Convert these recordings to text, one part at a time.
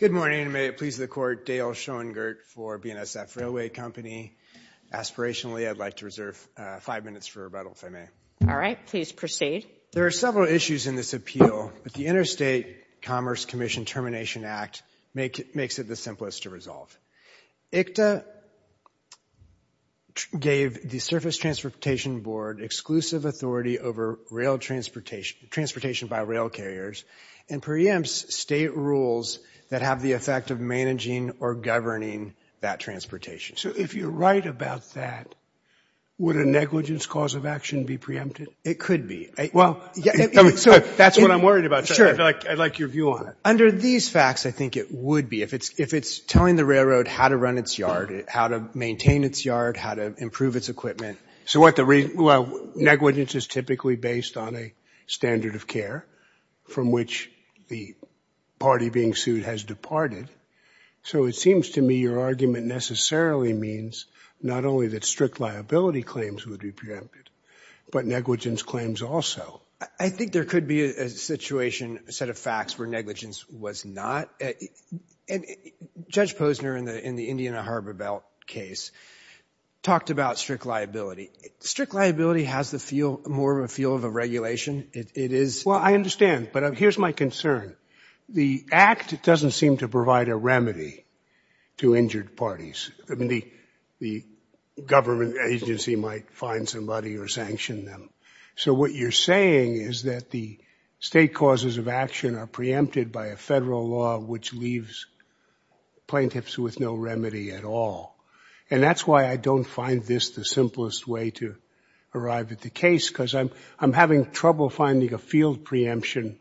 There are several issues in this appeal, but the Interstate Commerce Commission Termination Act makes it the simplest to resolve. ICTA gave the Surface Transportation Board exclusive authority over transportation by rail carriers and preempts state rules that have the effect of managing or governing that transportation. So if you're right about that, would a negligence cause of action be preempted? It could be. Well, that's what I'm worried about. I'd like your view on it. Under these facts, I think it would be. If it's telling the railroad how to run its yard, how to maintain its yard, how to improve its equipment. So what the reason? Well, negligence is typically based on a standard of care from which the party being sued has departed. So it seems to me your argument necessarily means not only that strict liability claims would be preempted, but negligence claims also. I think there could be a situation, a set of facts, where negligence was not. Judge Strict liability has the feel, more of a feel of a regulation. It is. Well, I understand. But here's my concern. The act doesn't seem to provide a remedy to injured parties. The government agency might find somebody or sanction them. So what you're saying is that the state causes of action are preempted by a federal law which leaves plaintiffs with no remedy at all. And that's why I don't find this the simplest way to arrive at the case, because I'm having trouble finding a field preemption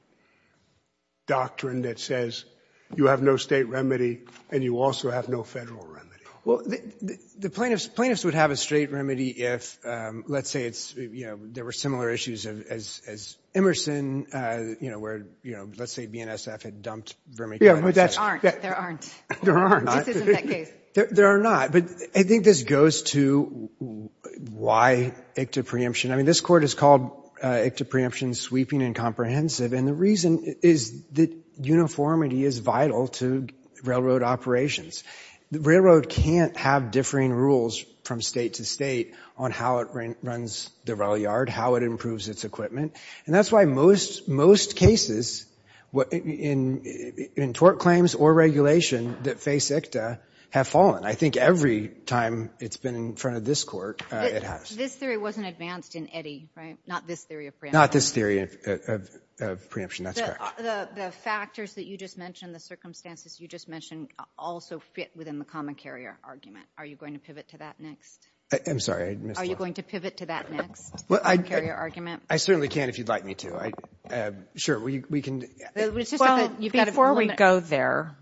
doctrine that says you have no state remedy and you also have no federal remedy. Well, the plaintiffs would have a straight remedy if, let's say, there were similar issues as Emerson, where let's say BNSF had dumped vermicompost. There aren't. This isn't that case. There are not. But I think this goes to why ICTA preemption. I mean, this Court has called ICTA preemption sweeping and comprehensive. And the reason is that uniformity is vital to railroad operations. Railroad can't have differing rules from state to state on how it runs the rail yard, how it improves its equipment. And that's why most cases, in terms of court claims or regulation that face ICTA, have fallen. I think every time it's been in front of this Court, it has. This theory wasn't advanced in Eddy, right? Not this theory of preemption. Not this theory of preemption. That's correct. The factors that you just mentioned, the circumstances you just mentioned, also fit within the common carrier argument. Are you going to pivot to that next? I'm sorry. I missed one. Are you going to pivot to that next? Well, I certainly can if you'd like me to. Sure, we can. Before we go there,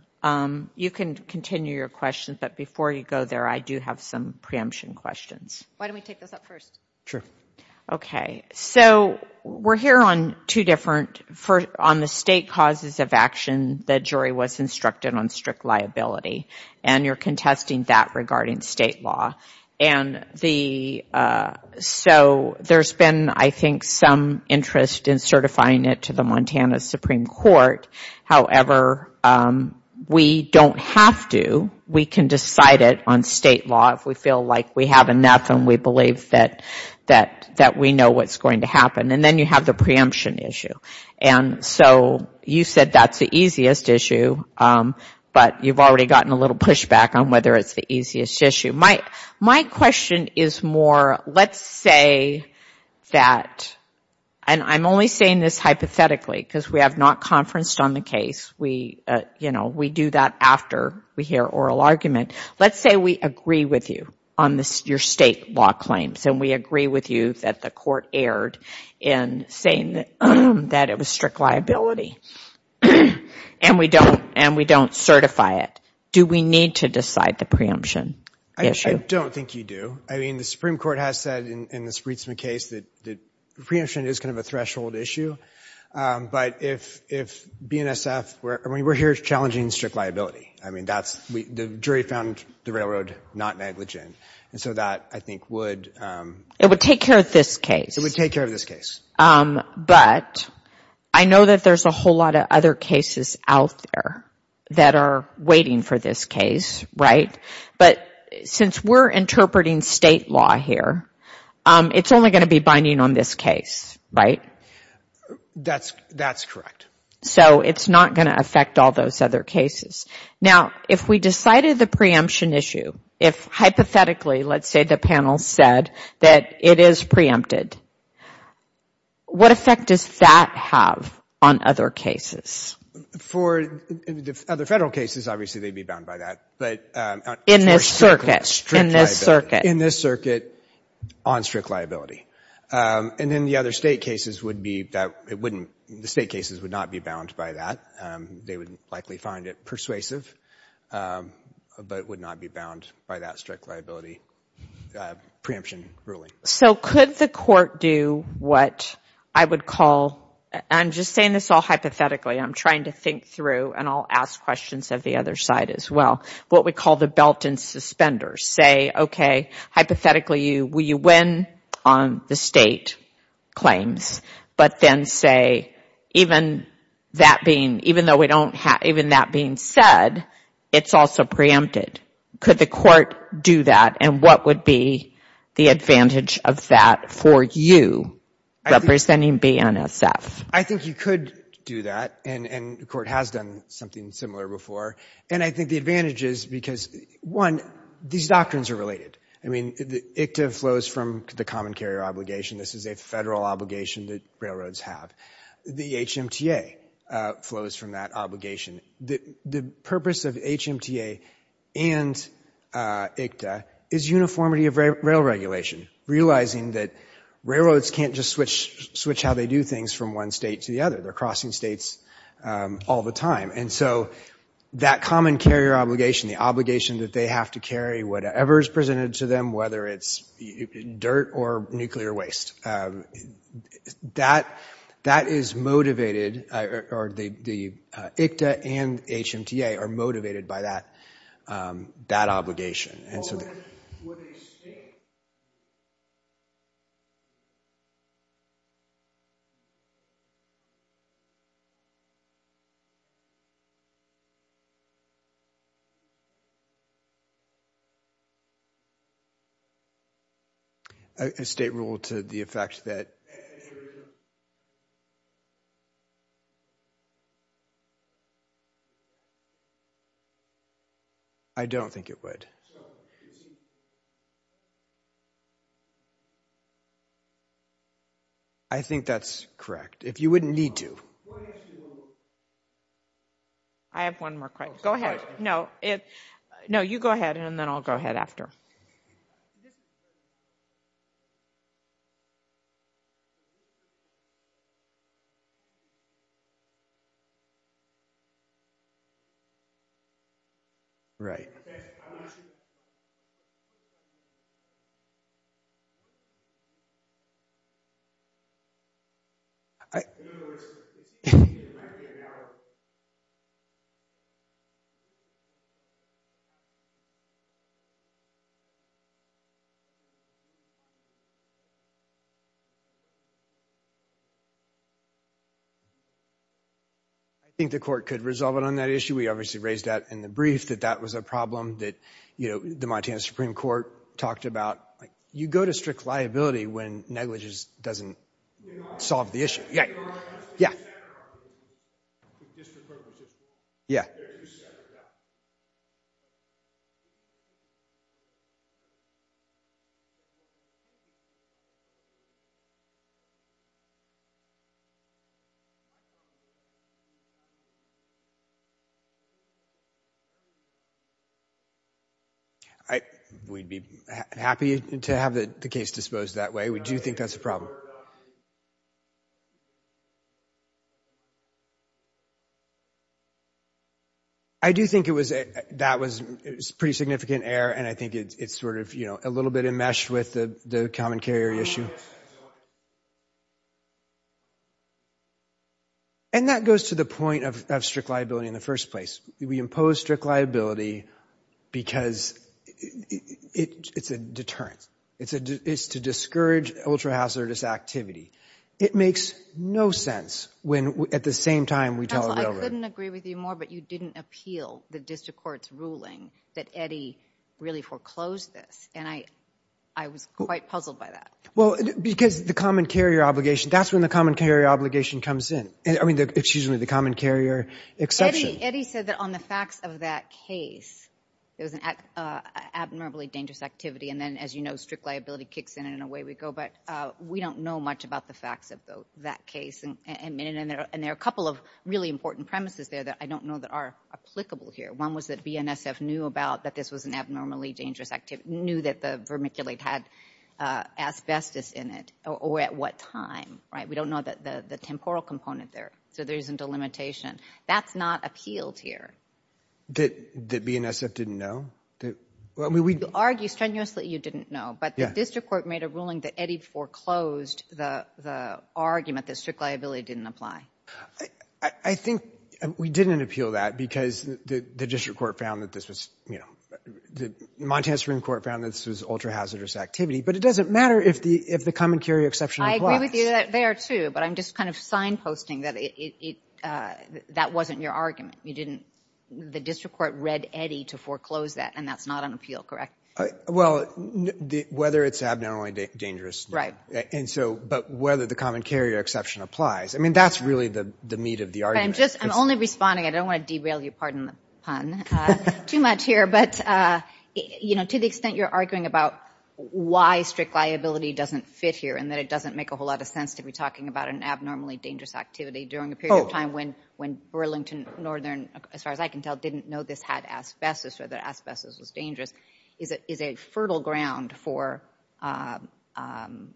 you can continue your questions. But before you go there, I do have some preemption questions. Why don't we take those up first? Okay. So we're here on two different, on the state causes of action the jury was instructed on strict liability. And you're contesting that regarding state law. So there's been, I think, some interest in certifying it to the Montana Supreme Court. However, we don't have to. We can decide it on state law if we feel like we have enough and we believe that we know what's going to happen. And then you have the preemption issue. And so you said that's the easiest issue. But you've already gotten a little pushback on whether it's the easiest issue. My question is more, let's say that, and I'm only saying this hypothetically because we have not conferenced on the case. We do that after we hear oral argument. Let's say we agree with you on your state law claims. And we agree with you that the court erred in saying that it was strict liability. And we don't certify it. Do we need to decide the issue? I don't think you do. I mean, the Supreme Court has said in this Rietzman case that preemption is kind of a threshold issue. But if BNSF, I mean, we're here challenging strict liability. I mean, the jury found the railroad not negligent. And so that, I think, would It would take care of this case. It would take care of this case. But I know that there's a whole lot of other cases out there that are waiting for this case, right? But since we're interpreting state law here, it's only going to be binding on this case, right? That's correct. So it's not going to affect all those other cases. Now, if we decided the preemption issue, if hypothetically, let's say the panel said that it is preempted, what effect does that have on other cases? For other federal cases, obviously, they'd be bound by that. But in this circuit, on strict liability. And then the other state cases would not be bound by that. They would likely find it persuasive, but would not be bound by that strict liability preemption ruling. So could the court do what I would call, I'm just saying this all hypothetically, I'm trying to think through, and I'll ask questions of the other side as well, what we call the belt and suspenders. Say, okay, hypothetically, will you win on the state claims? But then say, even that being said, it's also preempted. Could the court do that? And what would be the advantage of that for you, representing BNSF? I think you could do that. And the court has done something similar before. And I think the advantage is because, one, these doctrines are related. I mean, the ICTA flows from the common carrier obligation. This is a federal obligation that railroads have. The HMTA flows from that obligation. The purpose of HMTA and ICTA is uniformity of rail regulation. Realizing that railroads can't just switch how they do things from one state to the other. They're crossing states all the time. And so that common carrier obligation, the obligation that they have to carry whatever is presented to them, whether it's dirt or nuclear waste, that is motivated, or the ICTA and HMTA are motivated by that obligation. And so then, would a state... A state rule to the effect that... A state rule to the effect that... I don't think it would. I think that's correct. If you wouldn't need to... I have one more question. Go ahead. No, you go ahead, and then I'll go ahead after. Go ahead. Right. I... I think the court could resolve it on that issue. We obviously raised that in the brief, that that was a problem that the Montana Supreme Court talked about. You go to strict liability when negligence doesn't solve the issue. Yeah. Yeah. Yeah. Yeah. I... We'd be happy to have the case disposed that way. We do think that's a problem. I do think it was... That was pretty significant error, and I think it's sort of, you know, a little bit enmeshed with the common carrier issue. And that goes to the point of strict liability in the first place. We impose strict liability because it's a deterrence. It's to discourage ultra-hazardous activity. It makes no sense when, at the same time, we tell the railroad... Counsel, I couldn't agree with you more, but you didn't appeal the district court's ruling that Eddie really foreclosed this, and I was quite puzzled by that. Well, because the common carrier obligation... That's when the common carrier obligation comes in. I mean, excuse me, the common carrier exception. Eddie said that on the facts of that case, there was an abnormally dangerous activity, and then, as you know, strict liability kicks in, and away we go. But we don't know much about the facts of that case. And there are a couple of really important premises there that I don't know that are applicable here. One was that BNSF knew about that this was an abnormally dangerous activity, knew that the vermiculite had asbestos in it, or at what time. We don't know the temporal component there, so there isn't a limitation. That's not appealed here. That BNSF didn't know? You argue strenuously you didn't know, but the district court made a ruling that Eddie foreclosed the argument that strict liability didn't apply. I think we didn't appeal that because the district court found that this was... Montana Supreme Court found that this was ultra-hazardous activity, but it doesn't matter if the common carrier exception applies. I agree with you there, too, but I'm just kind of signposting that that wasn't your argument. You didn't... The district court read Eddie to foreclose that, and that's not on appeal, correct? Well, whether it's abnormally dangerous... And so... But whether the common carrier exception applies. I mean, that's really the meat of the argument. I'm only responding. I don't want to derail you. Pardon the pun. Too much here, but to the extent you're arguing about why strict liability doesn't fit here and that it doesn't make a whole lot of sense to be talking about an abnormally dangerous activity during a period of time when Burlington Northern, as far as I can tell, didn't know this had asbestos or that asbestos was dangerous, is a fertile ground for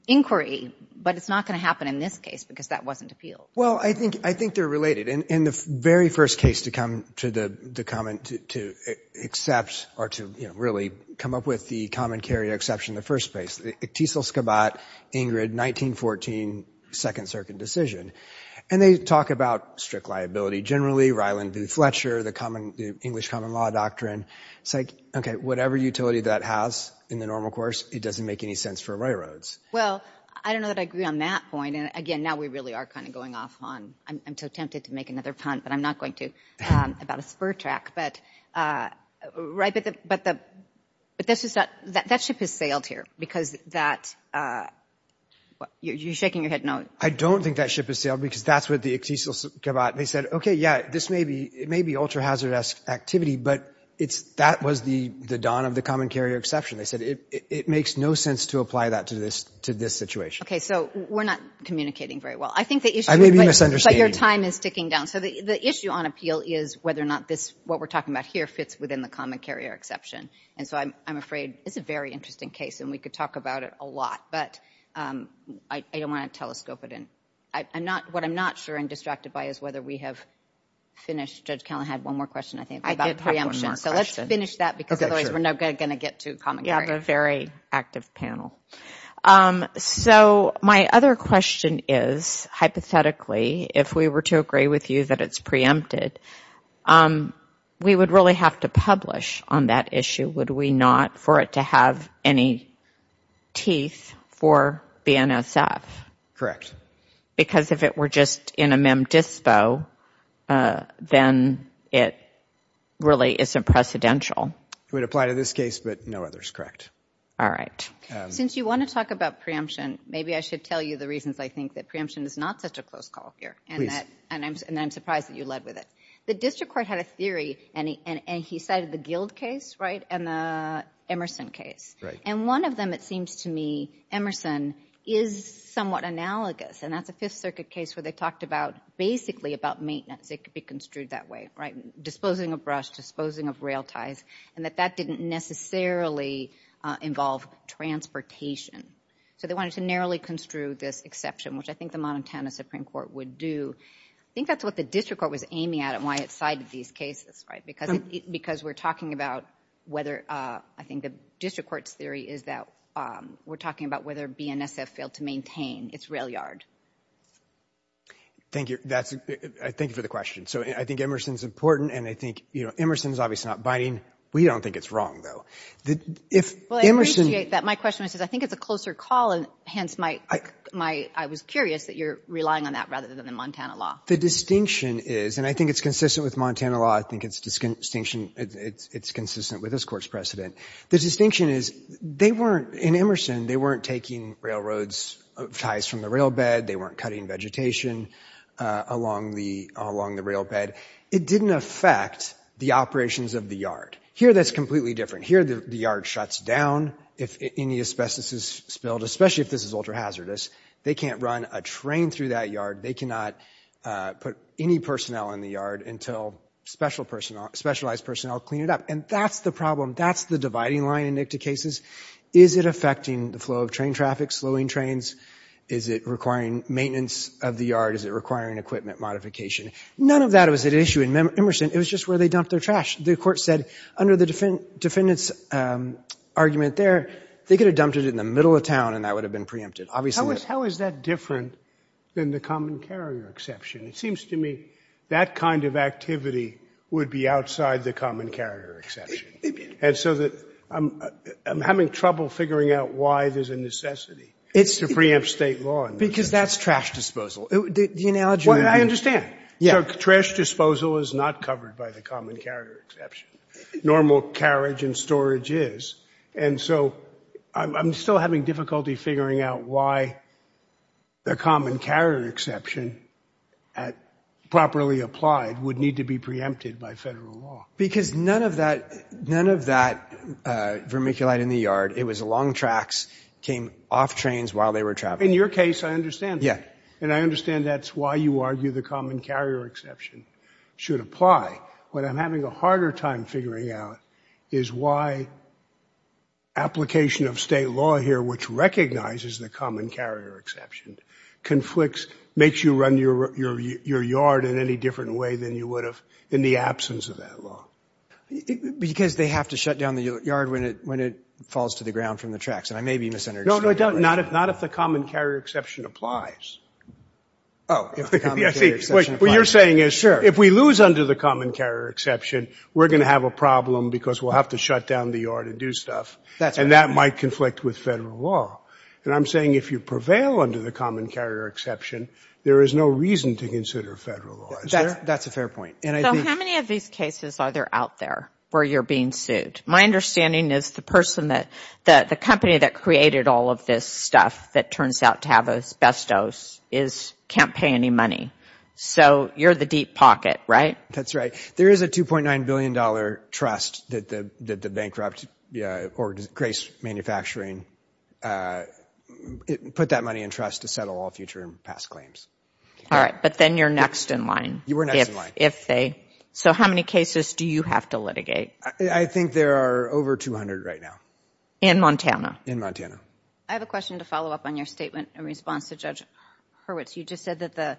inquiry. But it's not going to happen in this case because that wasn't appealed. Well, I think they're related. In the very first case to come to the comment to accept or to really come up with the common carrier exception in the first place, the Iktisil-Skabat-Ingrid 1914 Second Circuit decision, and they talk about strict liability generally, Ryland v. Fletcher, the English common law doctrine. It's like, okay, whatever utility that has in the normal course, it doesn't make any sense for railroads. Well, I don't know that I agree on that point. And, again, now we really are kind of going off on... I'm so tempted to make another pun, but I'm not going to, about a spur track. But that ship has sailed here because that... You're shaking your head no. I don't think that ship has sailed because that's what the Iktisil-Skabat, they said, okay, yeah, this may be ultra-hazardous activity, but that was the don of the common carrier exception. They said it makes no sense to apply that to this situation. Okay, so we're not communicating very well. I may be misunderstanding. But your time is ticking down. So the issue on appeal is whether or not what we're talking about here fits within the common carrier exception. And so I'm afraid it's a very interesting case, and we could talk about it a lot. But I don't want to telescope it in. What I'm not sure and distracted by is whether we have finished. Judge Callan had one more question, I think, about preemption. I did have one more question. So let's finish that because otherwise we're not going to get to common carrier. You have a very active panel. So my other question is, hypothetically, if we were to agree with you that it's preempted, we would really have to publish on that issue, would we not, for it to have any teeth for BNSF? Correct. Because if it were just in a mem dispo, then it really isn't precedential. It would apply to this case, but no others, correct. All right. Since you want to talk about preemption, maybe I should tell you the reasons I think that preemption is not such a close call here. Please. And I'm surprised that you led with it. The district court had a theory, and he cited the Guild case, right, and the Emerson case. Right. And one of them, it seems to me, Emerson is somewhat analogous, and that's a Fifth Circuit case where they talked about basically about maintenance. It could be construed that way, right, disposing of brush, disposing of rail ties, and that that didn't necessarily involve transportation. So they wanted to narrowly construe this exception, which I think the Montana Supreme Court would do. I think that's what the district court was aiming at and why it cited these cases, right, because we're talking about whether I think the district court's theory is that we're talking about whether BNSF failed to maintain its rail yard. Thank you. Thank you for the question. So I think Emerson's important, and I think, you know, Emerson's obviously not binding. We don't think it's wrong, though. Well, I appreciate that. My question was, I think it's a closer call, and hence I was curious that you're relying on that rather than the Montana law. The distinction is, and I think it's consistent with Montana law. I think it's consistent with this Court's precedent. The distinction is they weren't, in Emerson, they weren't taking railroad ties from the rail bed. They weren't cutting vegetation along the rail bed. It didn't affect the operations of the yard. Here that's completely different. Here the yard shuts down if any asbestos is spilled, especially if this is ultra-hazardous. They can't run a train through that yard. They cannot put any personnel in the yard until specialized personnel clean it up, and that's the problem. That's the dividing line in NICTA cases. Is it affecting the flow of train traffic, slowing trains? Is it requiring maintenance of the yard? Is it requiring equipment modification? None of that was at issue in Emerson. It was just where they dumped their trash. The Court said under the defendant's argument there, they could have dumped it in the middle of town and that would have been preempted. How is that different than the common carrier exception? It seems to me that kind of activity would be outside the common carrier exception. And so I'm having trouble figuring out why there's a necessity. It's to preempt state law. Because that's trash disposal. I understand. Trash disposal is not covered by the common carrier exception. Normal carriage and storage is. And so I'm still having difficulty figuring out why the common carrier exception, properly applied, would need to be preempted by federal law. Because none of that vermiculite in the yard, it was along tracks, came off trains while they were traveling. In your case, I understand that. Yeah. And I understand that's why you argue the common carrier exception should apply. What I'm having a harder time figuring out is why application of state law here, which recognizes the common carrier exception, conflicts, makes you run your yard in any different way than you would have in the absence of that law. Because they have to shut down the yard when it falls to the ground from the tracks. And I may be misunderstanding that. No, not if the common carrier exception applies. Oh, if the common carrier exception applies. What you're saying is if we lose under the common carrier exception, we're going to have a problem because we'll have to shut down the yard and do stuff. And that might conflict with federal law. And I'm saying if you prevail under the common carrier exception, there is no reason to consider federal law. Is there? That's a fair point. So how many of these cases are there out there where you're being sued? My understanding is the company that created all of this stuff that turns out to have asbestos can't pay any money. So you're the deep pocket, right? That's right. There is a $2.9 billion trust that the bankrupt Grace Manufacturing put that money in trust to settle all future and past claims. All right. But then you're next in line. You were next in line. So how many cases do you have to litigate? I think there are over 200 right now. In Montana? In Montana. I have a question to follow up on your statement in response to Judge Hurwitz. You just said that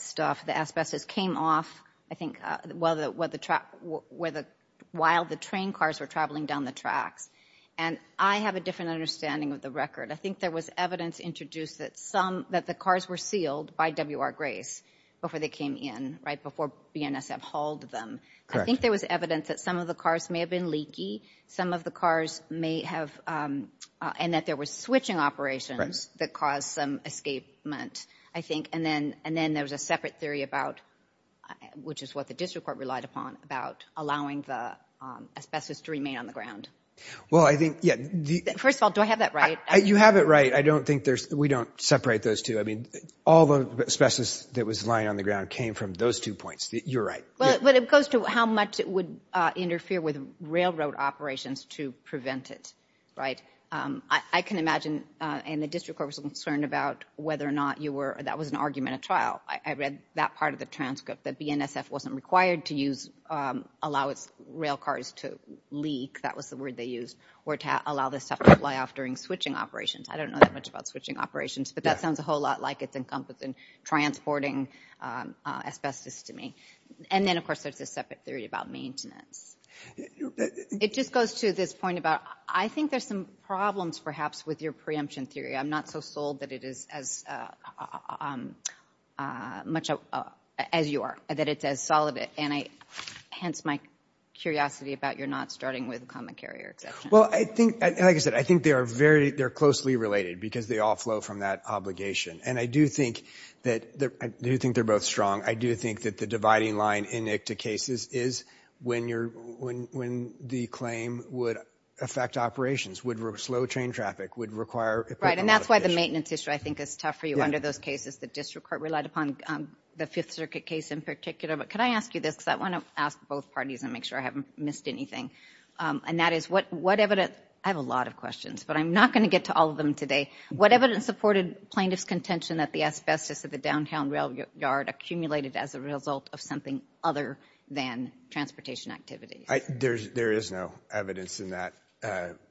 stuff, the asbestos came off, I think, while the train cars were traveling down the tracks. And I have a different understanding of the record. I think there was evidence introduced that the cars were sealed by W.R. Grace before they came in, right, before BNSF hauled them. I think there was evidence that some of the cars may have been leaky. Some of the cars may have – and that there were switching operations that caused some escapement, I think. And then there was a separate theory about, which is what the district court relied upon, about allowing the asbestos to remain on the ground. Well, I think – First of all, do I have that right? You have it right. I don't think there's – we don't separate those two. I mean all the asbestos that was lying on the ground came from those two points. You're right. But it goes to how much it would interfere with railroad operations to prevent it, right? I can imagine – and the district court was concerned about whether or not you were – that was an argument at trial. I read that part of the transcript, that BNSF wasn't required to use – allow its rail cars to leak. That was the word they used. Or to allow this stuff to fly off during switching operations. I don't know that much about switching operations, but that sounds a whole lot like it's encompassing transporting asbestos to me. And then, of course, there's a separate theory about maintenance. It just goes to this point about I think there's some problems perhaps with your preemption theory. I'm not so sold that it is as much as you are, that it's as solid. And hence my curiosity about your not starting with the common carrier exception. Well, I think – like I said, I think they are very – they're closely related because they all flow from that obligation. And I do think that – I do think they're both strong. I do think that the dividing line in ICTA cases is when you're – when the claim would affect operations, would slow train traffic, would require – Right, and that's why the maintenance issue I think is tough for you under those cases. The district court relied upon the Fifth Circuit case in particular. But could I ask you this because I want to ask both parties and make sure I haven't missed anything. And that is what evidence – I have a lot of questions, but I'm not going to get to all of them today. What evidence supported plaintiff's contention that the asbestos at the downtown rail yard accumulated as a result of something other than transportation activities? There is no evidence in that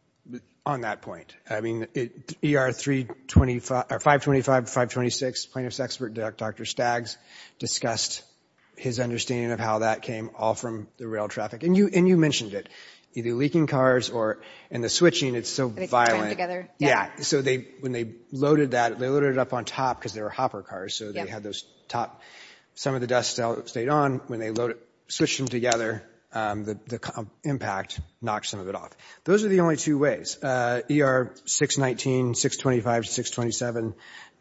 – on that point. I mean, ER 525 to 526, plaintiff's expert, Dr. Staggs, discussed his understanding of how that came all from the rail traffic. And you mentioned it. Either leaking cars or – and the switching, it's so violent. So when they loaded that, they loaded it up on top because they were hopper cars, so they had those top – some of the dust stayed on. When they switched them together, the impact knocked some of it off. Those are the only two ways. ER 619, 625, 627,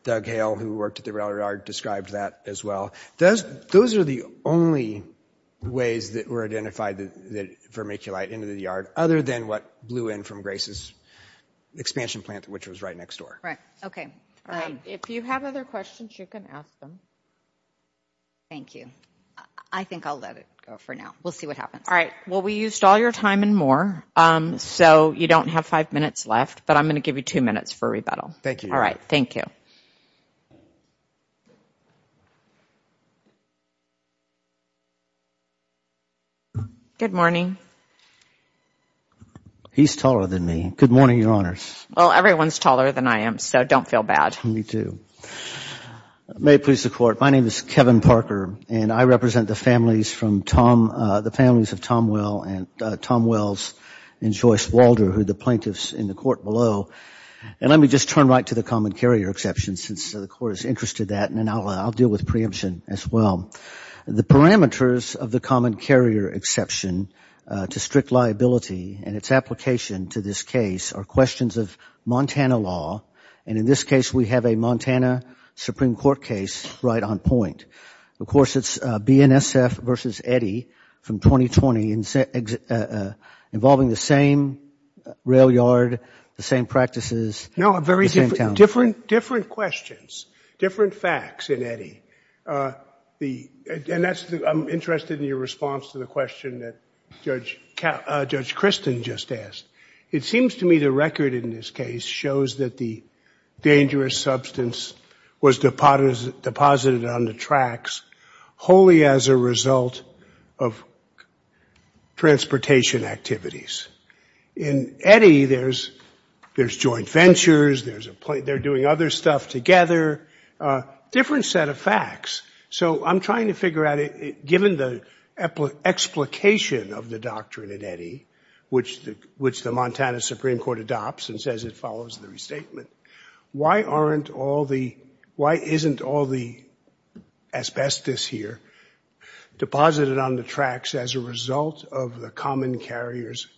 Doug Hale, who worked at the rail yard, described that as well. Those are the only ways that were identified that vermiculite into the yard other than what blew in from Grace's expansion plant, which was right next door. Right. Okay. All right. If you have other questions, you can ask them. Thank you. I think I'll let it go for now. We'll see what happens. All right. Well, we used all your time and more, so you don't have five minutes left, but I'm going to give you two minutes for rebuttal. Thank you. All right. Thank you. Good morning. He's taller than me. Good morning, Your Honors. Well, everyone's taller than I am, so don't feel bad. Me too. May it please the Court. My name is Kevin Parker, and I represent the families from Tom – the families of Tom Wells and Joyce Walder, who are the plaintiffs in the court below. And let me just turn right to the common carrier exception since the Court is interested in that, and then I'll deal with preemption as well. The parameters of the common carrier exception to strict liability and its application to this case are questions of Montana law, and in this case we have a Montana Supreme Court case right on point. Of course, it's BNSF versus Eddy from 2020 involving the same rail yard, the same practices, the same town. No, different questions, different facts in Eddy. And that's – I'm interested in your response to the question that Judge Christin just asked. It seems to me the record in this case shows that the dangerous substance was deposited on the tracks wholly as a result of transportation activities. In Eddy, there's joint ventures, there's a – they're doing other stuff together, different set of facts. So I'm trying to figure out, given the explication of the doctrine in Eddy, which the Montana Supreme Court adopts and says it follows the restatement, why aren't all the – why isn't all the asbestos here deposited on the tracks as a result of the common carrier's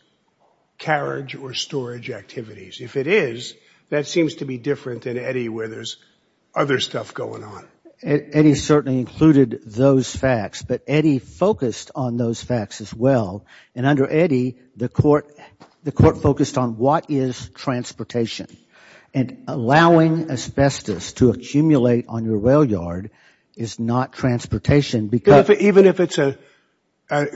carriage or storage activities? If it is, that seems to be different in Eddy where there's other stuff going on. Eddy certainly included those facts, but Eddy focused on those facts as well. And under Eddy, the court focused on what is transportation. And allowing asbestos to accumulate on your rail yard is not transportation because – Even if it's a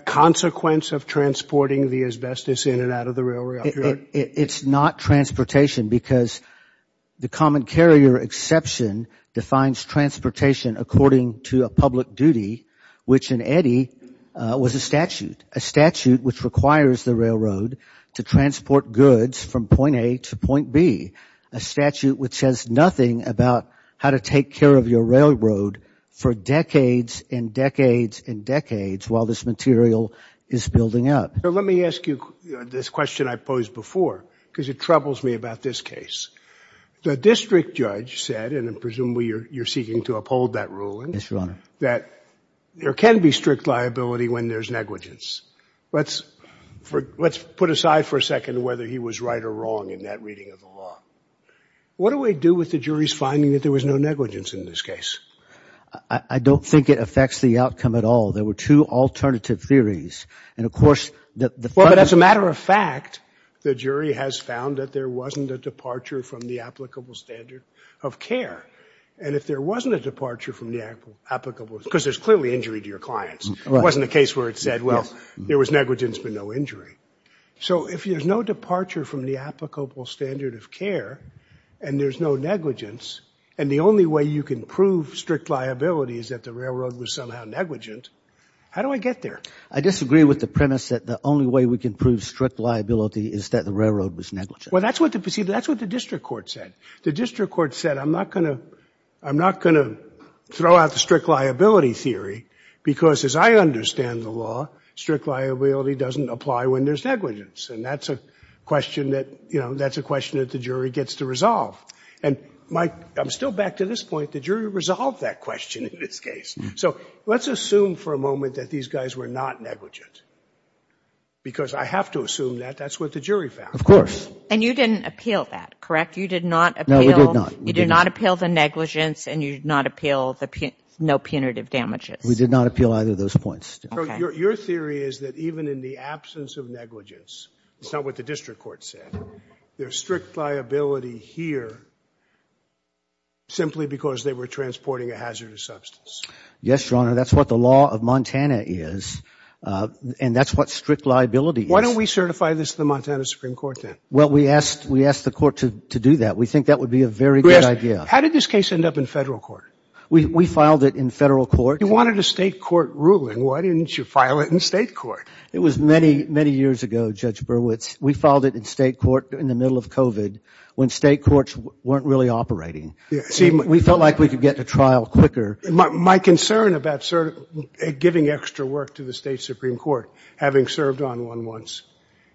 consequence of transporting the asbestos in and out of the rail yard? It's not transportation because the common carrier exception defines transportation according to a public duty, which in Eddy was a statute. A statute which requires the railroad to transport goods from point A to point B. A statute which says nothing about how to take care of your railroad for decades and decades and decades while this material is building up. Let me ask you this question I posed before because it troubles me about this case. The district judge said, and presumably you're seeking to uphold that ruling, that there can be strict liability when there's negligence. Let's put aside for a second whether he was right or wrong in that reading of the law. What do we do with the jury's finding that there was no negligence in this case? I don't think it affects the outcome at all. There were two alternative theories. And of course – Well, but as a matter of fact, the jury has found that there wasn't a departure from the applicable standard of care. And if there wasn't a departure from the applicable – because there's clearly injury to your clients. It wasn't a case where it said, well, there was negligence but no injury. So if there's no departure from the applicable standard of care and there's no negligence, and the only way you can prove strict liability is that the railroad was somehow negligent, how do I get there? I disagree with the premise that the only way we can prove strict liability is that the railroad was negligent. Well, that's what the district court said. The district court said, I'm not going to throw out the strict liability theory because as I understand the law, strict liability doesn't apply when there's negligence. And that's a question that, you know, that's a question that the jury gets to resolve. And my – I'm still back to this point. The jury resolved that question in this case. So let's assume for a moment that these guys were not negligent because I have to assume that that's what the jury found. Of course. And you didn't appeal that, correct? You did not appeal – No, we did not. You did not appeal the negligence and you did not appeal the no punitive damages. We did not appeal either of those points. Okay. So your theory is that even in the absence of negligence – it's not what the district court said – there's strict liability here simply because they were transporting a hazardous substance. Yes, Your Honor. That's what the law of Montana is. And that's what strict liability is. Why don't we certify this to the Montana Supreme Court then? Well, we asked the court to do that. We think that would be a very good idea. How did this case end up in federal court? We filed it in federal court. You wanted a state court ruling. Why didn't you file it in state court? It was many, many years ago, Judge Berwitz. We filed it in state court in the middle of COVID when state courts weren't really operating. We felt like we could get to trial quicker. My concern about giving extra work to the state Supreme Court, having served on one once,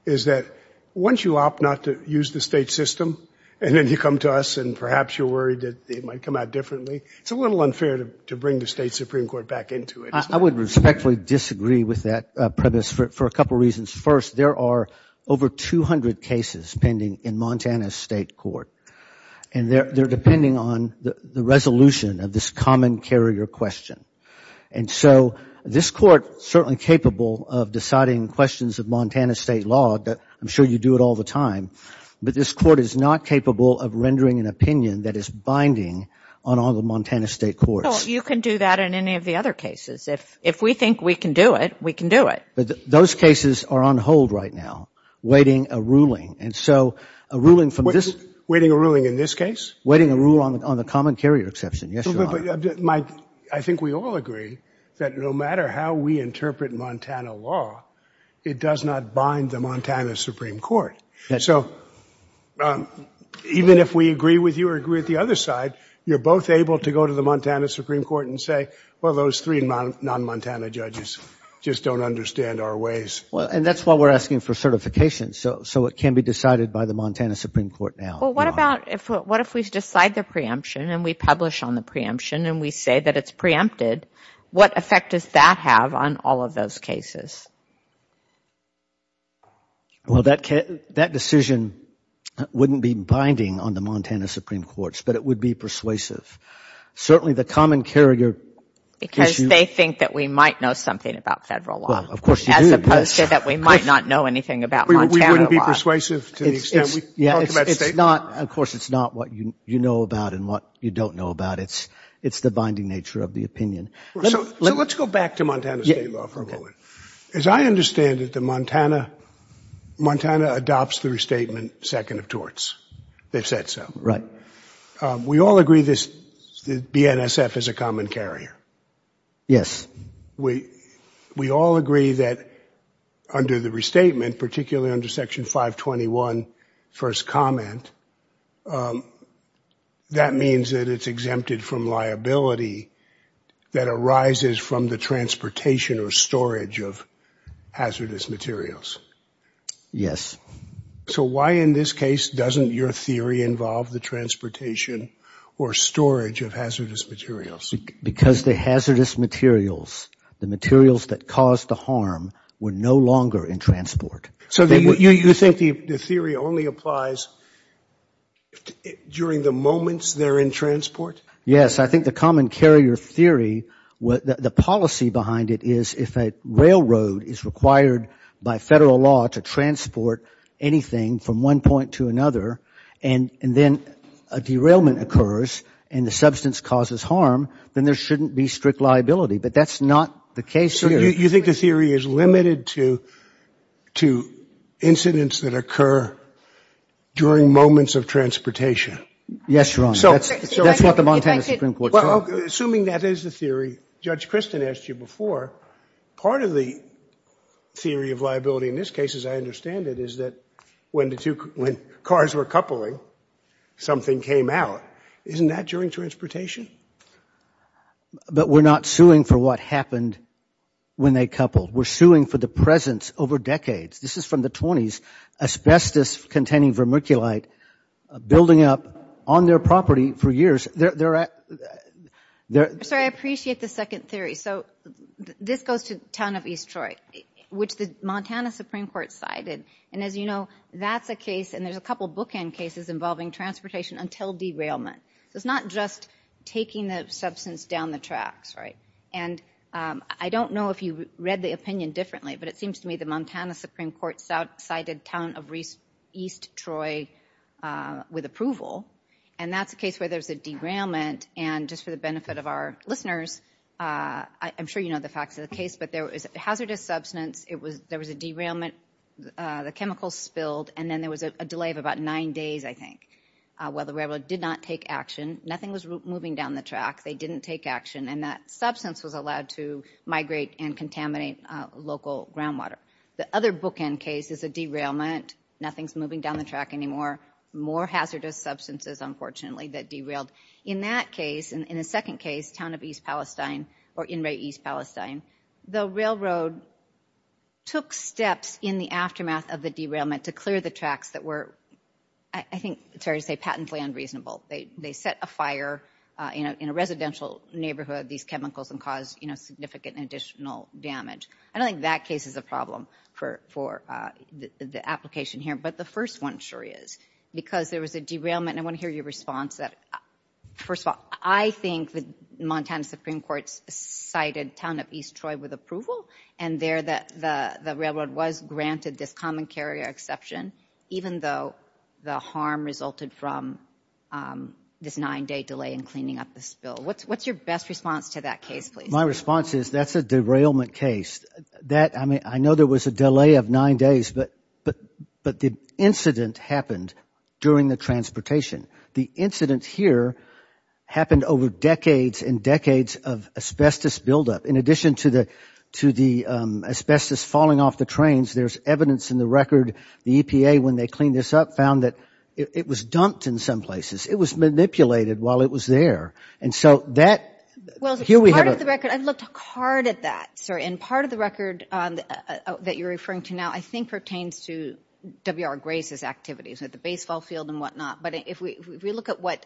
is that once you opt not to use the state system and then you come to us and perhaps you're worried that it might come out differently, it's a little unfair to bring the state Supreme Court back into it. I would respectfully disagree with that premise for a couple reasons. First, there are over 200 cases pending in Montana state court, and they're depending on the resolution of this common carrier question. And so this court is certainly capable of deciding questions of Montana state law. I'm sure you do it all the time. But this court is not capable of rendering an opinion that is binding on all the Montana state courts. Well, you can do that in any of the other cases. If we think we can do it, we can do it. But those cases are on hold right now, waiting a ruling. And so a ruling from this. Waiting a ruling in this case? Waiting a rule on the common carrier exception. Yes, Your Honor. I think we all agree that no matter how we interpret Montana law, it does not bind the Montana Supreme Court. So even if we agree with you or agree with the other side, you're both able to go to the Montana Supreme Court and say, well, those three non-Montana judges just don't understand our ways. And that's why we're asking for certification, so it can be decided by the Montana Supreme Court now. Well, what if we decide the preemption and we publish on the preemption and we say that it's preempted? What effect does that have on all of those cases? Well, that decision wouldn't be binding on the Montana Supreme Courts, but it would be persuasive. Certainly the common carrier issue. Because they think that we might know something about federal law. Well, of course you do. As opposed to that we might not know anything about Montana law. We wouldn't be persuasive to the extent we talk about state law. Of course, it's not what you know about and what you don't know about. It's the binding nature of the opinion. So let's go back to Montana state law for a moment. As I understand it, Montana adopts the restatement second of torts. They've said so. Right. We all agree that BNSF is a common carrier. Yes. We all agree that under the restatement, particularly under Section 521, first comment, that means that it's exempted from liability that arises from the transportation or storage of hazardous materials. Yes. So why in this case doesn't your theory involve the transportation or storage of hazardous materials? Because the hazardous materials, the materials that cause the harm, were no longer in transport. So you think the theory only applies during the moments they're in transport? Yes. I think the common carrier theory, the policy behind it is if a railroad is required by federal law to transport anything from one point to another and then a derailment occurs and the substance causes harm, then there shouldn't be strict liability. But that's not the case here. So you think the theory is limited to incidents that occur during moments of transportation? Yes, Your Honor. That's what the Montana Supreme Court said. Assuming that is the theory, Judge Christin asked you before, part of the theory of liability in this case, as I understand it, is that when cars were coupling, something came out. Isn't that during transportation? But we're not suing for what happened when they coupled. We're suing for the presence over decades. This is from the 20s, asbestos-containing vermiculite building up on their property for years. Sorry, I appreciate the second theory. So this goes to the town of East Troy, which the Montana Supreme Court cited. And as you know, that's a case, and there's a couple of bookend cases involving transportation until derailment. So it's not just taking the substance down the tracks, right? And I don't know if you read the opinion differently, but it seems to me the Montana Supreme Court cited town of East Troy with approval, and that's a case where there's a derailment. And just for the benefit of our listeners, I'm sure you know the facts of the case, but there was hazardous substance, there was a derailment, the chemicals spilled, and then there was a delay of about nine days, I think, while the railroad did not take action. Nothing was moving down the track. They didn't take action, and that substance was allowed to migrate and contaminate local groundwater. The other bookend case is a derailment. Nothing's moving down the track anymore. More hazardous substances, unfortunately, that derailed. In that case, in the second case, town of East Palestine or In-Ray East Palestine, the railroad took steps in the aftermath of the derailment to clear the tracks that were, I think, sorry to say, patently unreasonable. They set a fire in a residential neighborhood, these chemicals, and caused significant additional damage. I don't think that case is a problem for the application here, but the first one sure is because there was a derailment, and I want to hear your response. First of all, I think the Montana Supreme Court cited town of East Troy with approval, and there the railroad was granted this common carrier exception, even though the harm resulted from this nine-day delay in cleaning up the spill. What's your best response to that case, please? My response is that's a derailment case. I know there was a delay of nine days, but the incident happened during the transportation. The incident here happened over decades and decades of asbestos buildup. In addition to the asbestos falling off the trains, there's evidence in the record, the EPA, when they cleaned this up, found that it was dumped in some places. It was manipulated while it was there. Well, part of the record, I've looked hard at that, sir, and part of the record that you're referring to now I think pertains to W.R. Grace's activities at the baseball field and whatnot. But if we look at what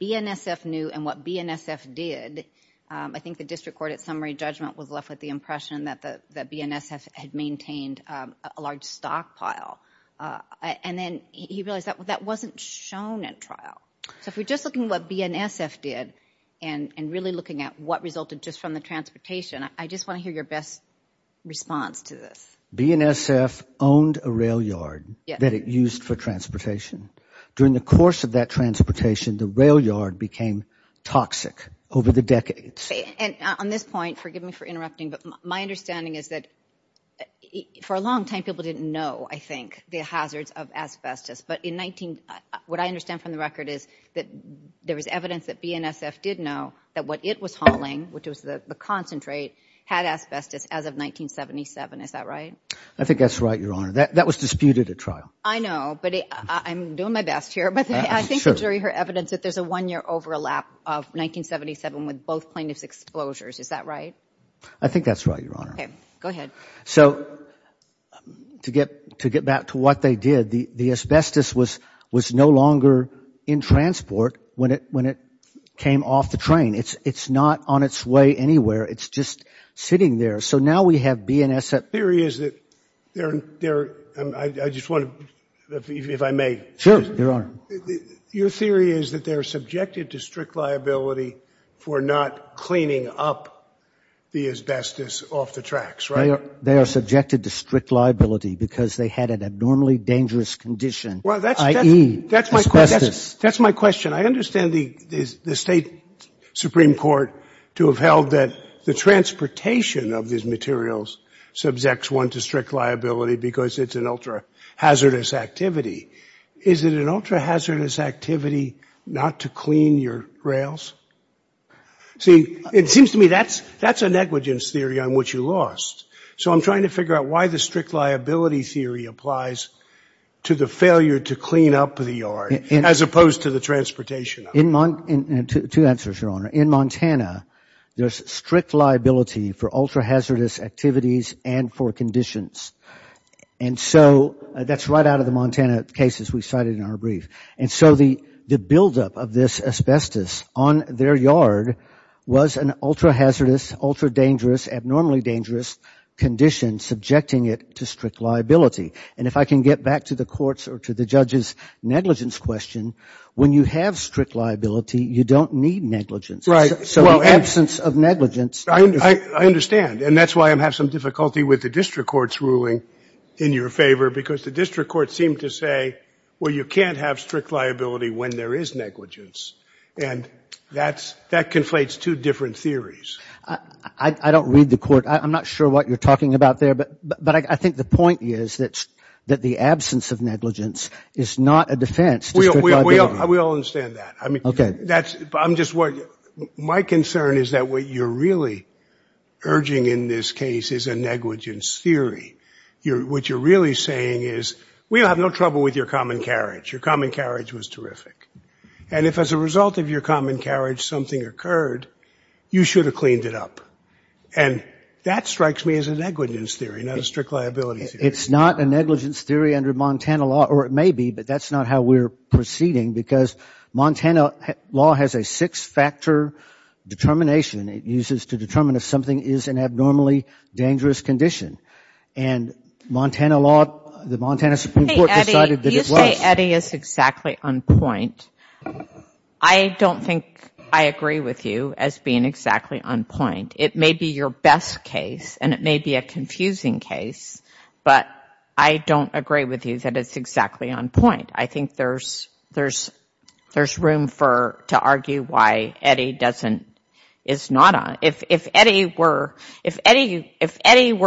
BNSF knew and what BNSF did, I think the district court at summary judgment was left with the impression that BNSF had maintained a large stockpile, and then he realized that wasn't shown at trial. So if we're just looking at what BNSF did and really looking at what resulted just from the transportation, I just want to hear your best response to this. BNSF owned a rail yard that it used for transportation. During the course of that transportation, the rail yard became toxic over the decades. And on this point, forgive me for interrupting, but my understanding is that for a long time people didn't know, I think, the hazards of asbestos. But what I understand from the record is that there was evidence that BNSF did know that what it was hauling, which was the concentrate, had asbestos as of 1977. Is that right? I think that's right, Your Honor. That was disputed at trial. I know, but I'm doing my best here. But I think there's evidence that there's a one-year overlap of 1977 with both plaintiffs' exposures. Is that right? I think that's right, Your Honor. Okay. Go ahead. So to get back to what they did, the asbestos was no longer in transport when it came off the train. It's not on its way anywhere. It's just sitting there. So now we have BNSF. The theory is that they're, I just want to, if I may. Sure, Your Honor. Your theory is that they're subjected to strict liability for not cleaning up the asbestos off the tracks, right? They are subjected to strict liability because they had an abnormally dangerous condition, i.e. asbestos. That's my question. I understand the State Supreme Court to have held that the transportation of these materials subjects one to strict liability because it's an ultra-hazardous activity. Is it an ultra-hazardous activity not to clean your rails? See, it seems to me that's a negligence theory on which you lost. So I'm trying to figure out why the strict liability theory applies to the failure to clean up the yard, as opposed to the transportation. Two answers, Your Honor. In Montana, there's strict liability for ultra-hazardous activities and for conditions. And so that's right out of the Montana cases we cited in our brief. And so the buildup of this asbestos on their yard was an ultra-hazardous, ultra-dangerous, abnormally dangerous condition subjecting it to strict liability. And if I can get back to the courts or to the judge's negligence question, when you have strict liability, you don't need negligence. So the absence of negligence. I understand. And that's why I have some difficulty with the district court's ruling in your favor, because the district courts seem to say, well, you can't have strict liability when there is negligence. And that conflates two different theories. I don't read the court. I'm not sure what you're talking about there. But I think the point is that the absence of negligence is not a defense to strict liability. We all understand that. Okay. My concern is that what you're really urging in this case is a negligence theory. What you're really saying is we'll have no trouble with your common carriage. Your common carriage was terrific. And if as a result of your common carriage something occurred, you should have cleaned it up. And that strikes me as a negligence theory, not a strict liability theory. It's not a negligence theory under Montana law, or it may be, but that's not how we're proceeding, because Montana law has a six-factor determination. It uses to determine if something is an abnormally dangerous condition. And Montana law, the Montana Supreme Court decided that it was. You say Eddie is exactly on point. I don't think I agree with you as being exactly on point. It may be your best case, and it may be a confusing case, but I don't agree with you that it's exactly on point. I think there's room to argue why Eddie is not on. If Eddie were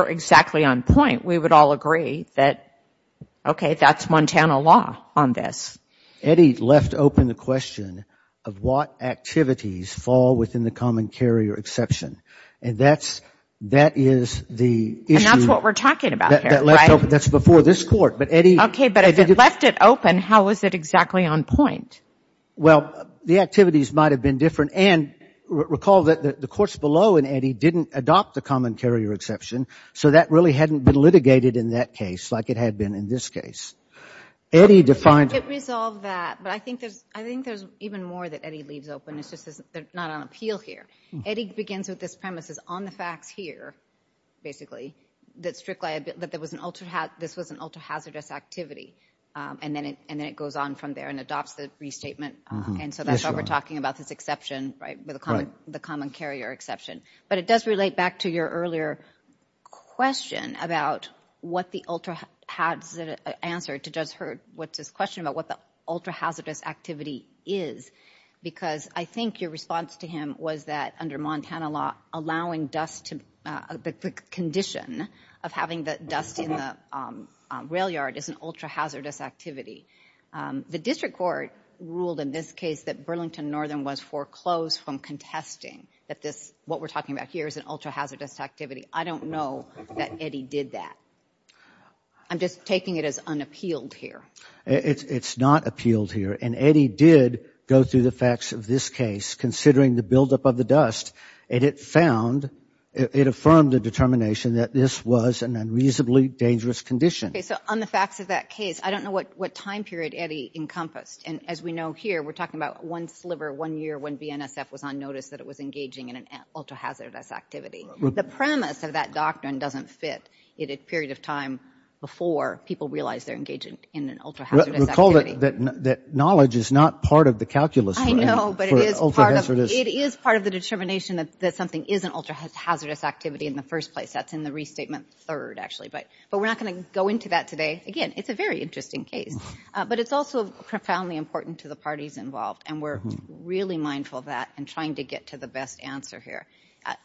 exactly on point, we would all agree that, okay, that's Montana law on this. Eddie left open the question of what activities fall within the common carrier exception. And that is the issue. That's what we're talking about here, right? That left open. That's before this Court. Okay, but if it left it open, how is it exactly on point? Well, the activities might have been different. And recall that the courts below in Eddie didn't adopt the common carrier exception, so that really hadn't been litigated in that case like it had been in this case. It resolved that, but I think there's even more that Eddie leaves open. It's just that they're not on appeal here. Eddie begins with this premise is on the facts here, basically, that this was an ultra-hazardous activity, and then it goes on from there and adopts the restatement. And so that's why we're talking about this exception, right, the common carrier exception. But it does relate back to your earlier question about what the ultra-hazardous activity is because I think your response to him was that under Montana law, allowing dust to, the condition of having dust in the rail yard is an ultra-hazardous activity. The district court ruled in this case that Burlington Northern was foreclosed from contesting that this, what we're talking about here, is an ultra-hazardous activity. I don't know that Eddie did that. I'm just taking it as unappealed here. It's not appealed here. And Eddie did go through the facts of this case, considering the buildup of the dust, and it found, it affirmed the determination that this was an unreasonably dangerous condition. Okay, so on the facts of that case, I don't know what time period Eddie encompassed. And as we know here, we're talking about one sliver, one year when BNSF was on notice that it was engaging in an ultra-hazardous activity. The premise of that doctrine doesn't fit in a period of time before people realize they're engaging in an ultra-hazardous activity. Recall that knowledge is not part of the calculus. I know, but it is part of the determination that something is an ultra-hazardous activity in the first place. That's in the restatement third, actually. But we're not going to go into that today. Again, it's a very interesting case. But it's also profoundly important to the parties involved, and we're really mindful of that in trying to get to the best answer here.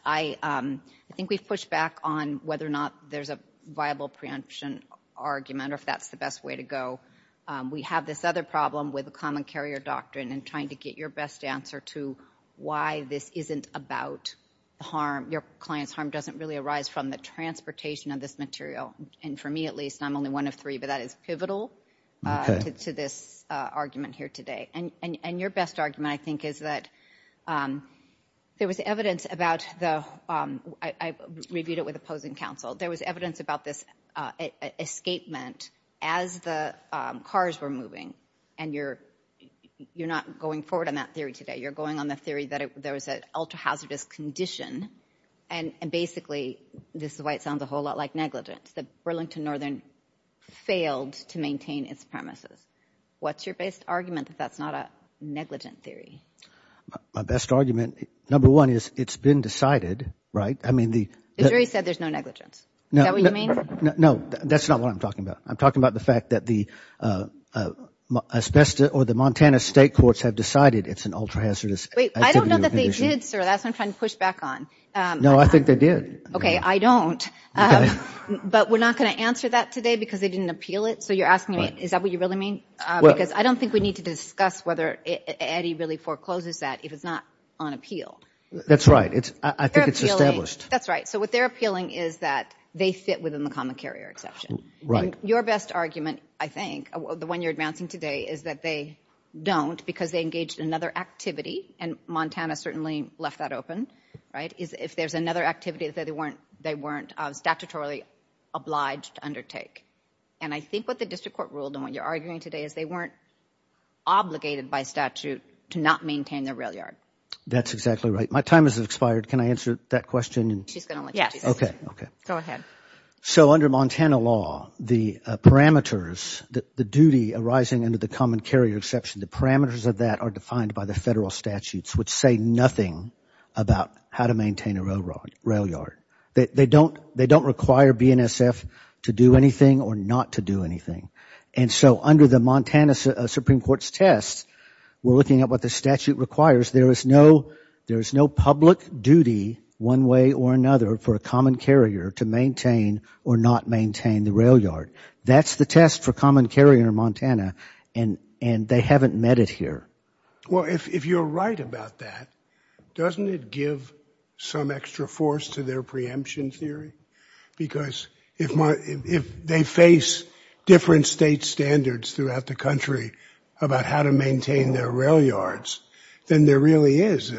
I think we've pushed back on whether or not there's a viable preemption argument, or if that's the best way to go. We have this other problem with the common carrier doctrine and trying to get your best answer to why this isn't about harm. Your client's harm doesn't really arise from the transportation of this material. And for me, at least, I'm only one of three, but that is pivotal to this argument here today. And your best argument, I think, is that there was evidence about the—I reviewed it with opposing counsel. There was evidence about this escapement as the cars were moving. And you're not going forward on that theory today. You're going on the theory that there was an ultra-hazardous condition. And basically, this is why it sounds a whole lot like negligence, that Burlington Northern failed to maintain its premises. What's your best argument that that's not a negligent theory? My best argument, number one, is it's been decided, right? The jury said there's no negligence. Is that what you mean? No, that's not what I'm talking about. I'm talking about the fact that the Montana state courts have decided it's an ultra-hazardous— Wait, I don't know that they did, sir. That's what I'm trying to push back on. No, I think they did. Okay, I don't. But we're not going to answer that today because they didn't appeal it. So you're asking me, is that what you really mean? Because I don't think we need to discuss whether Eddie really forecloses that if it's not on appeal. That's right. I think it's established. That's right. So what they're appealing is that they fit within the common carrier exception. Your best argument, I think, the one you're advancing today, is that they don't because they engaged in another activity, and Montana certainly left that open, right? If there's another activity that they weren't statutorily obliged to undertake. And I think what the district court ruled, and what you're arguing today, is they weren't obligated by statute to not maintain their rail yard. That's exactly right. My time has expired. Can I answer that question? She's going to let you. Okay. Go ahead. So under Montana law, the parameters, the duty arising under the common carrier exception, the parameters of that are defined by the federal statutes, which say nothing about how to maintain a rail yard. They don't require BNSF to do anything or not to do anything. And so under the Montana Supreme Court's test, we're looking at what the statute requires. There is no public duty one way or another for a common carrier to maintain or not maintain the rail yard. That's the test for common carrier in Montana, and they haven't met it here. Well, if you're right about that, doesn't it give some extra force to their preemption theory? Because if they face different state standards throughout the country about how to maintain their rail yards, then there really is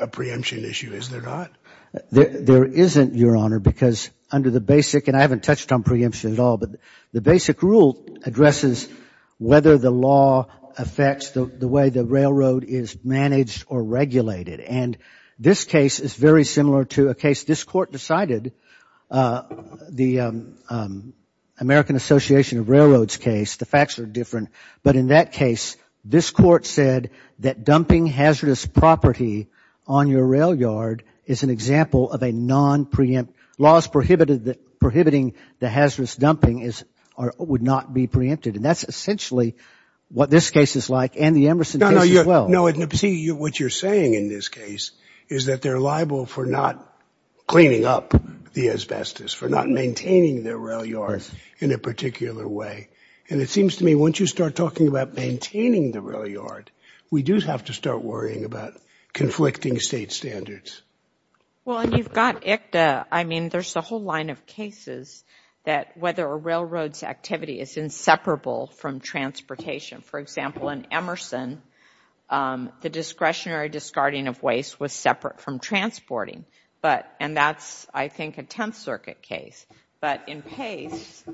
a preemption issue, is there not? There isn't, Your Honor, because under the basic, and I haven't touched on preemption at all, but the basic rule addresses whether the law affects the way the railroad is managed or regulated. And this case is very similar to a case this Court decided, the American Association of Railroads case. The facts are different. But in that case, this Court said that dumping hazardous property on your rail yard is an example of a non-preempt, and laws prohibiting the hazardous dumping would not be preempted. And that's essentially what this case is like and the Emerson case as well. No, see, what you're saying in this case is that they're liable for not cleaning up the asbestos, for not maintaining their rail yard in a particular way. And it seems to me once you start talking about maintaining the rail yard, we do have to start worrying about conflicting state standards. Well, and you've got ICTA. I mean, there's a whole line of cases that whether a railroad's activity is inseparable from transportation. For example, in Emerson, the discretionary discarding of waste was separate from transporting. And that's, I think, a Tenth Circuit case. But in Pace,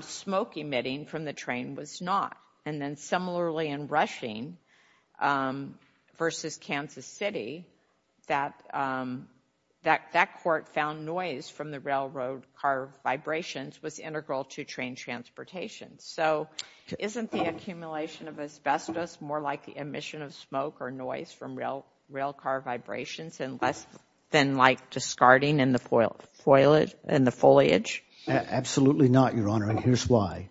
smoke emitting from the train was not. And then similarly in Rushing versus Kansas City, that court found noise from the railroad car vibrations was integral to train transportation. So isn't the accumulation of asbestos more like the emission of smoke or noise from rail car vibrations and less than like discarding in the foliage? Absolutely not, Your Honor, and here's why.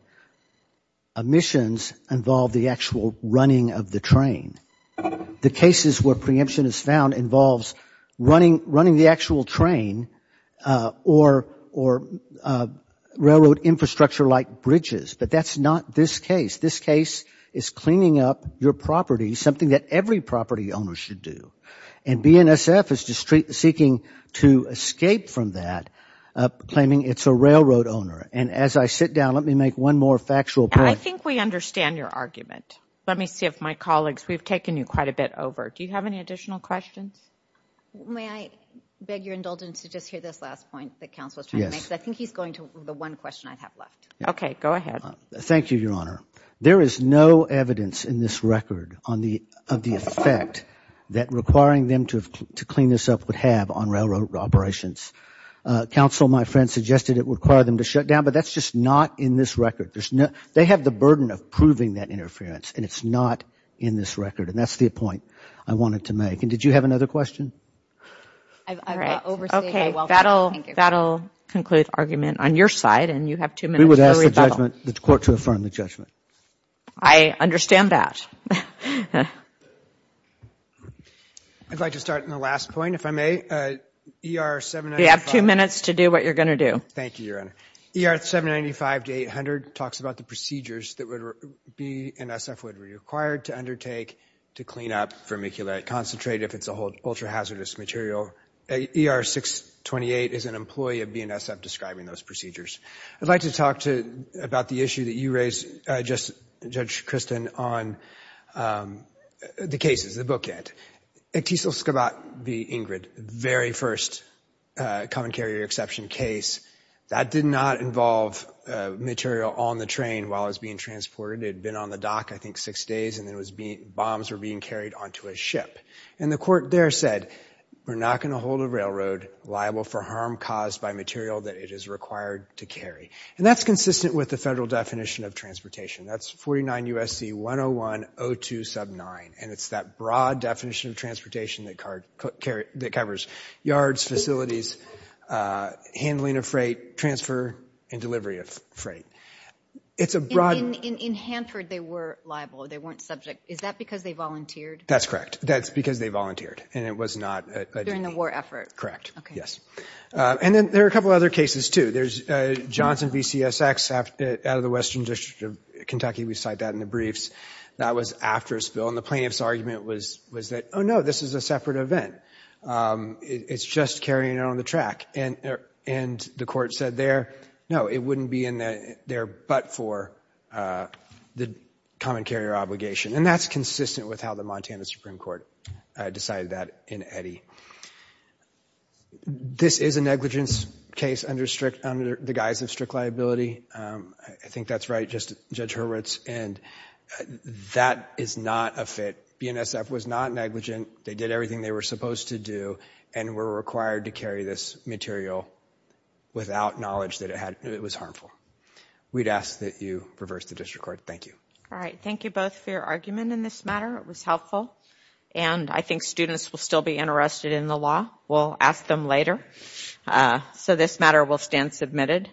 Emissions involve the actual running of the train. The cases where preemption is found involves running the actual train or railroad infrastructure like bridges. But that's not this case. This case is cleaning up your property, something that every property owner should do. And BNSF is seeking to escape from that, claiming it's a railroad owner. And as I sit down, let me make one more factual point. I think we understand your argument. Let me see if my colleagues, we've taken you quite a bit over. Do you have any additional questions? May I beg your indulgence to just hear this last point that counsel is trying to make? Yes. Because I think he's going to the one question I have left. Okay, go ahead. Thank you, Your Honor. There is no evidence in this record of the effect that requiring them to clean this up would have on railroad operations. Counsel, my friend, suggested it would require them to shut down, but that's just not in this record. They have the burden of proving that interference, and it's not in this record. And that's the point I wanted to make. And did you have another question? I've overstayed my welcome. Okay, that will conclude argument on your side, and you have two minutes. We would ask the court to affirm the judgment. I understand that. I'd like to start on the last point, if I may. You have two minutes to do what you're going to do. Thank you, Your Honor. ER 795 to 800 talks about the procedures that BNSF would be required to undertake to clean up vermiculite, concentrate if it's a whole ultra-hazardous material. ER 628 is an employee of BNSF describing those procedures. I'd like to talk about the issue that you raised, Judge Kristen, on the cases, the bookend. Actesel-Skabat v. Ingrid, the very first common carrier exception case, that did not involve material on the train while it was being transported. It had been on the dock, I think, six days, and then bombs were being carried onto a ship. And the court there said, we're not going to hold a railroad liable for harm caused by material that it is required to carry. And that's consistent with the federal definition of transportation. That's 49 U.S.C. 101.02 sub 9. And it's that broad definition of transportation that covers yards, facilities, handling of freight, transfer, and delivery of freight. In Hanford, they were liable. They weren't subject. Is that because they volunteered? That's correct. That's because they volunteered. And it was not a duty. During the war effort. Correct. Okay. Yes. And then there are a couple other cases, too. There's Johnson v. CSX out of the Western District of Kentucky. We cite that in the briefs. That was after a spill. And the plaintiff's argument was that, oh, no, this is a separate event. It's just carrying it on the track. And the court said there, no, it wouldn't be in there but for the common carrier obligation. And that's consistent with how the Montana Supreme Court decided that in Eddy. This is a negligence case under the guise of strict liability. I think that's right. And that is not a fit. BNSF was not negligent. They did everything they were supposed to do and were required to carry this material without knowledge that it was harmful. We'd ask that you reverse the district court. Thank you. All right. Thank you both for your argument in this matter. It was helpful. And I think students will still be interested in the law. We'll ask them later. So this matter will stand submitted.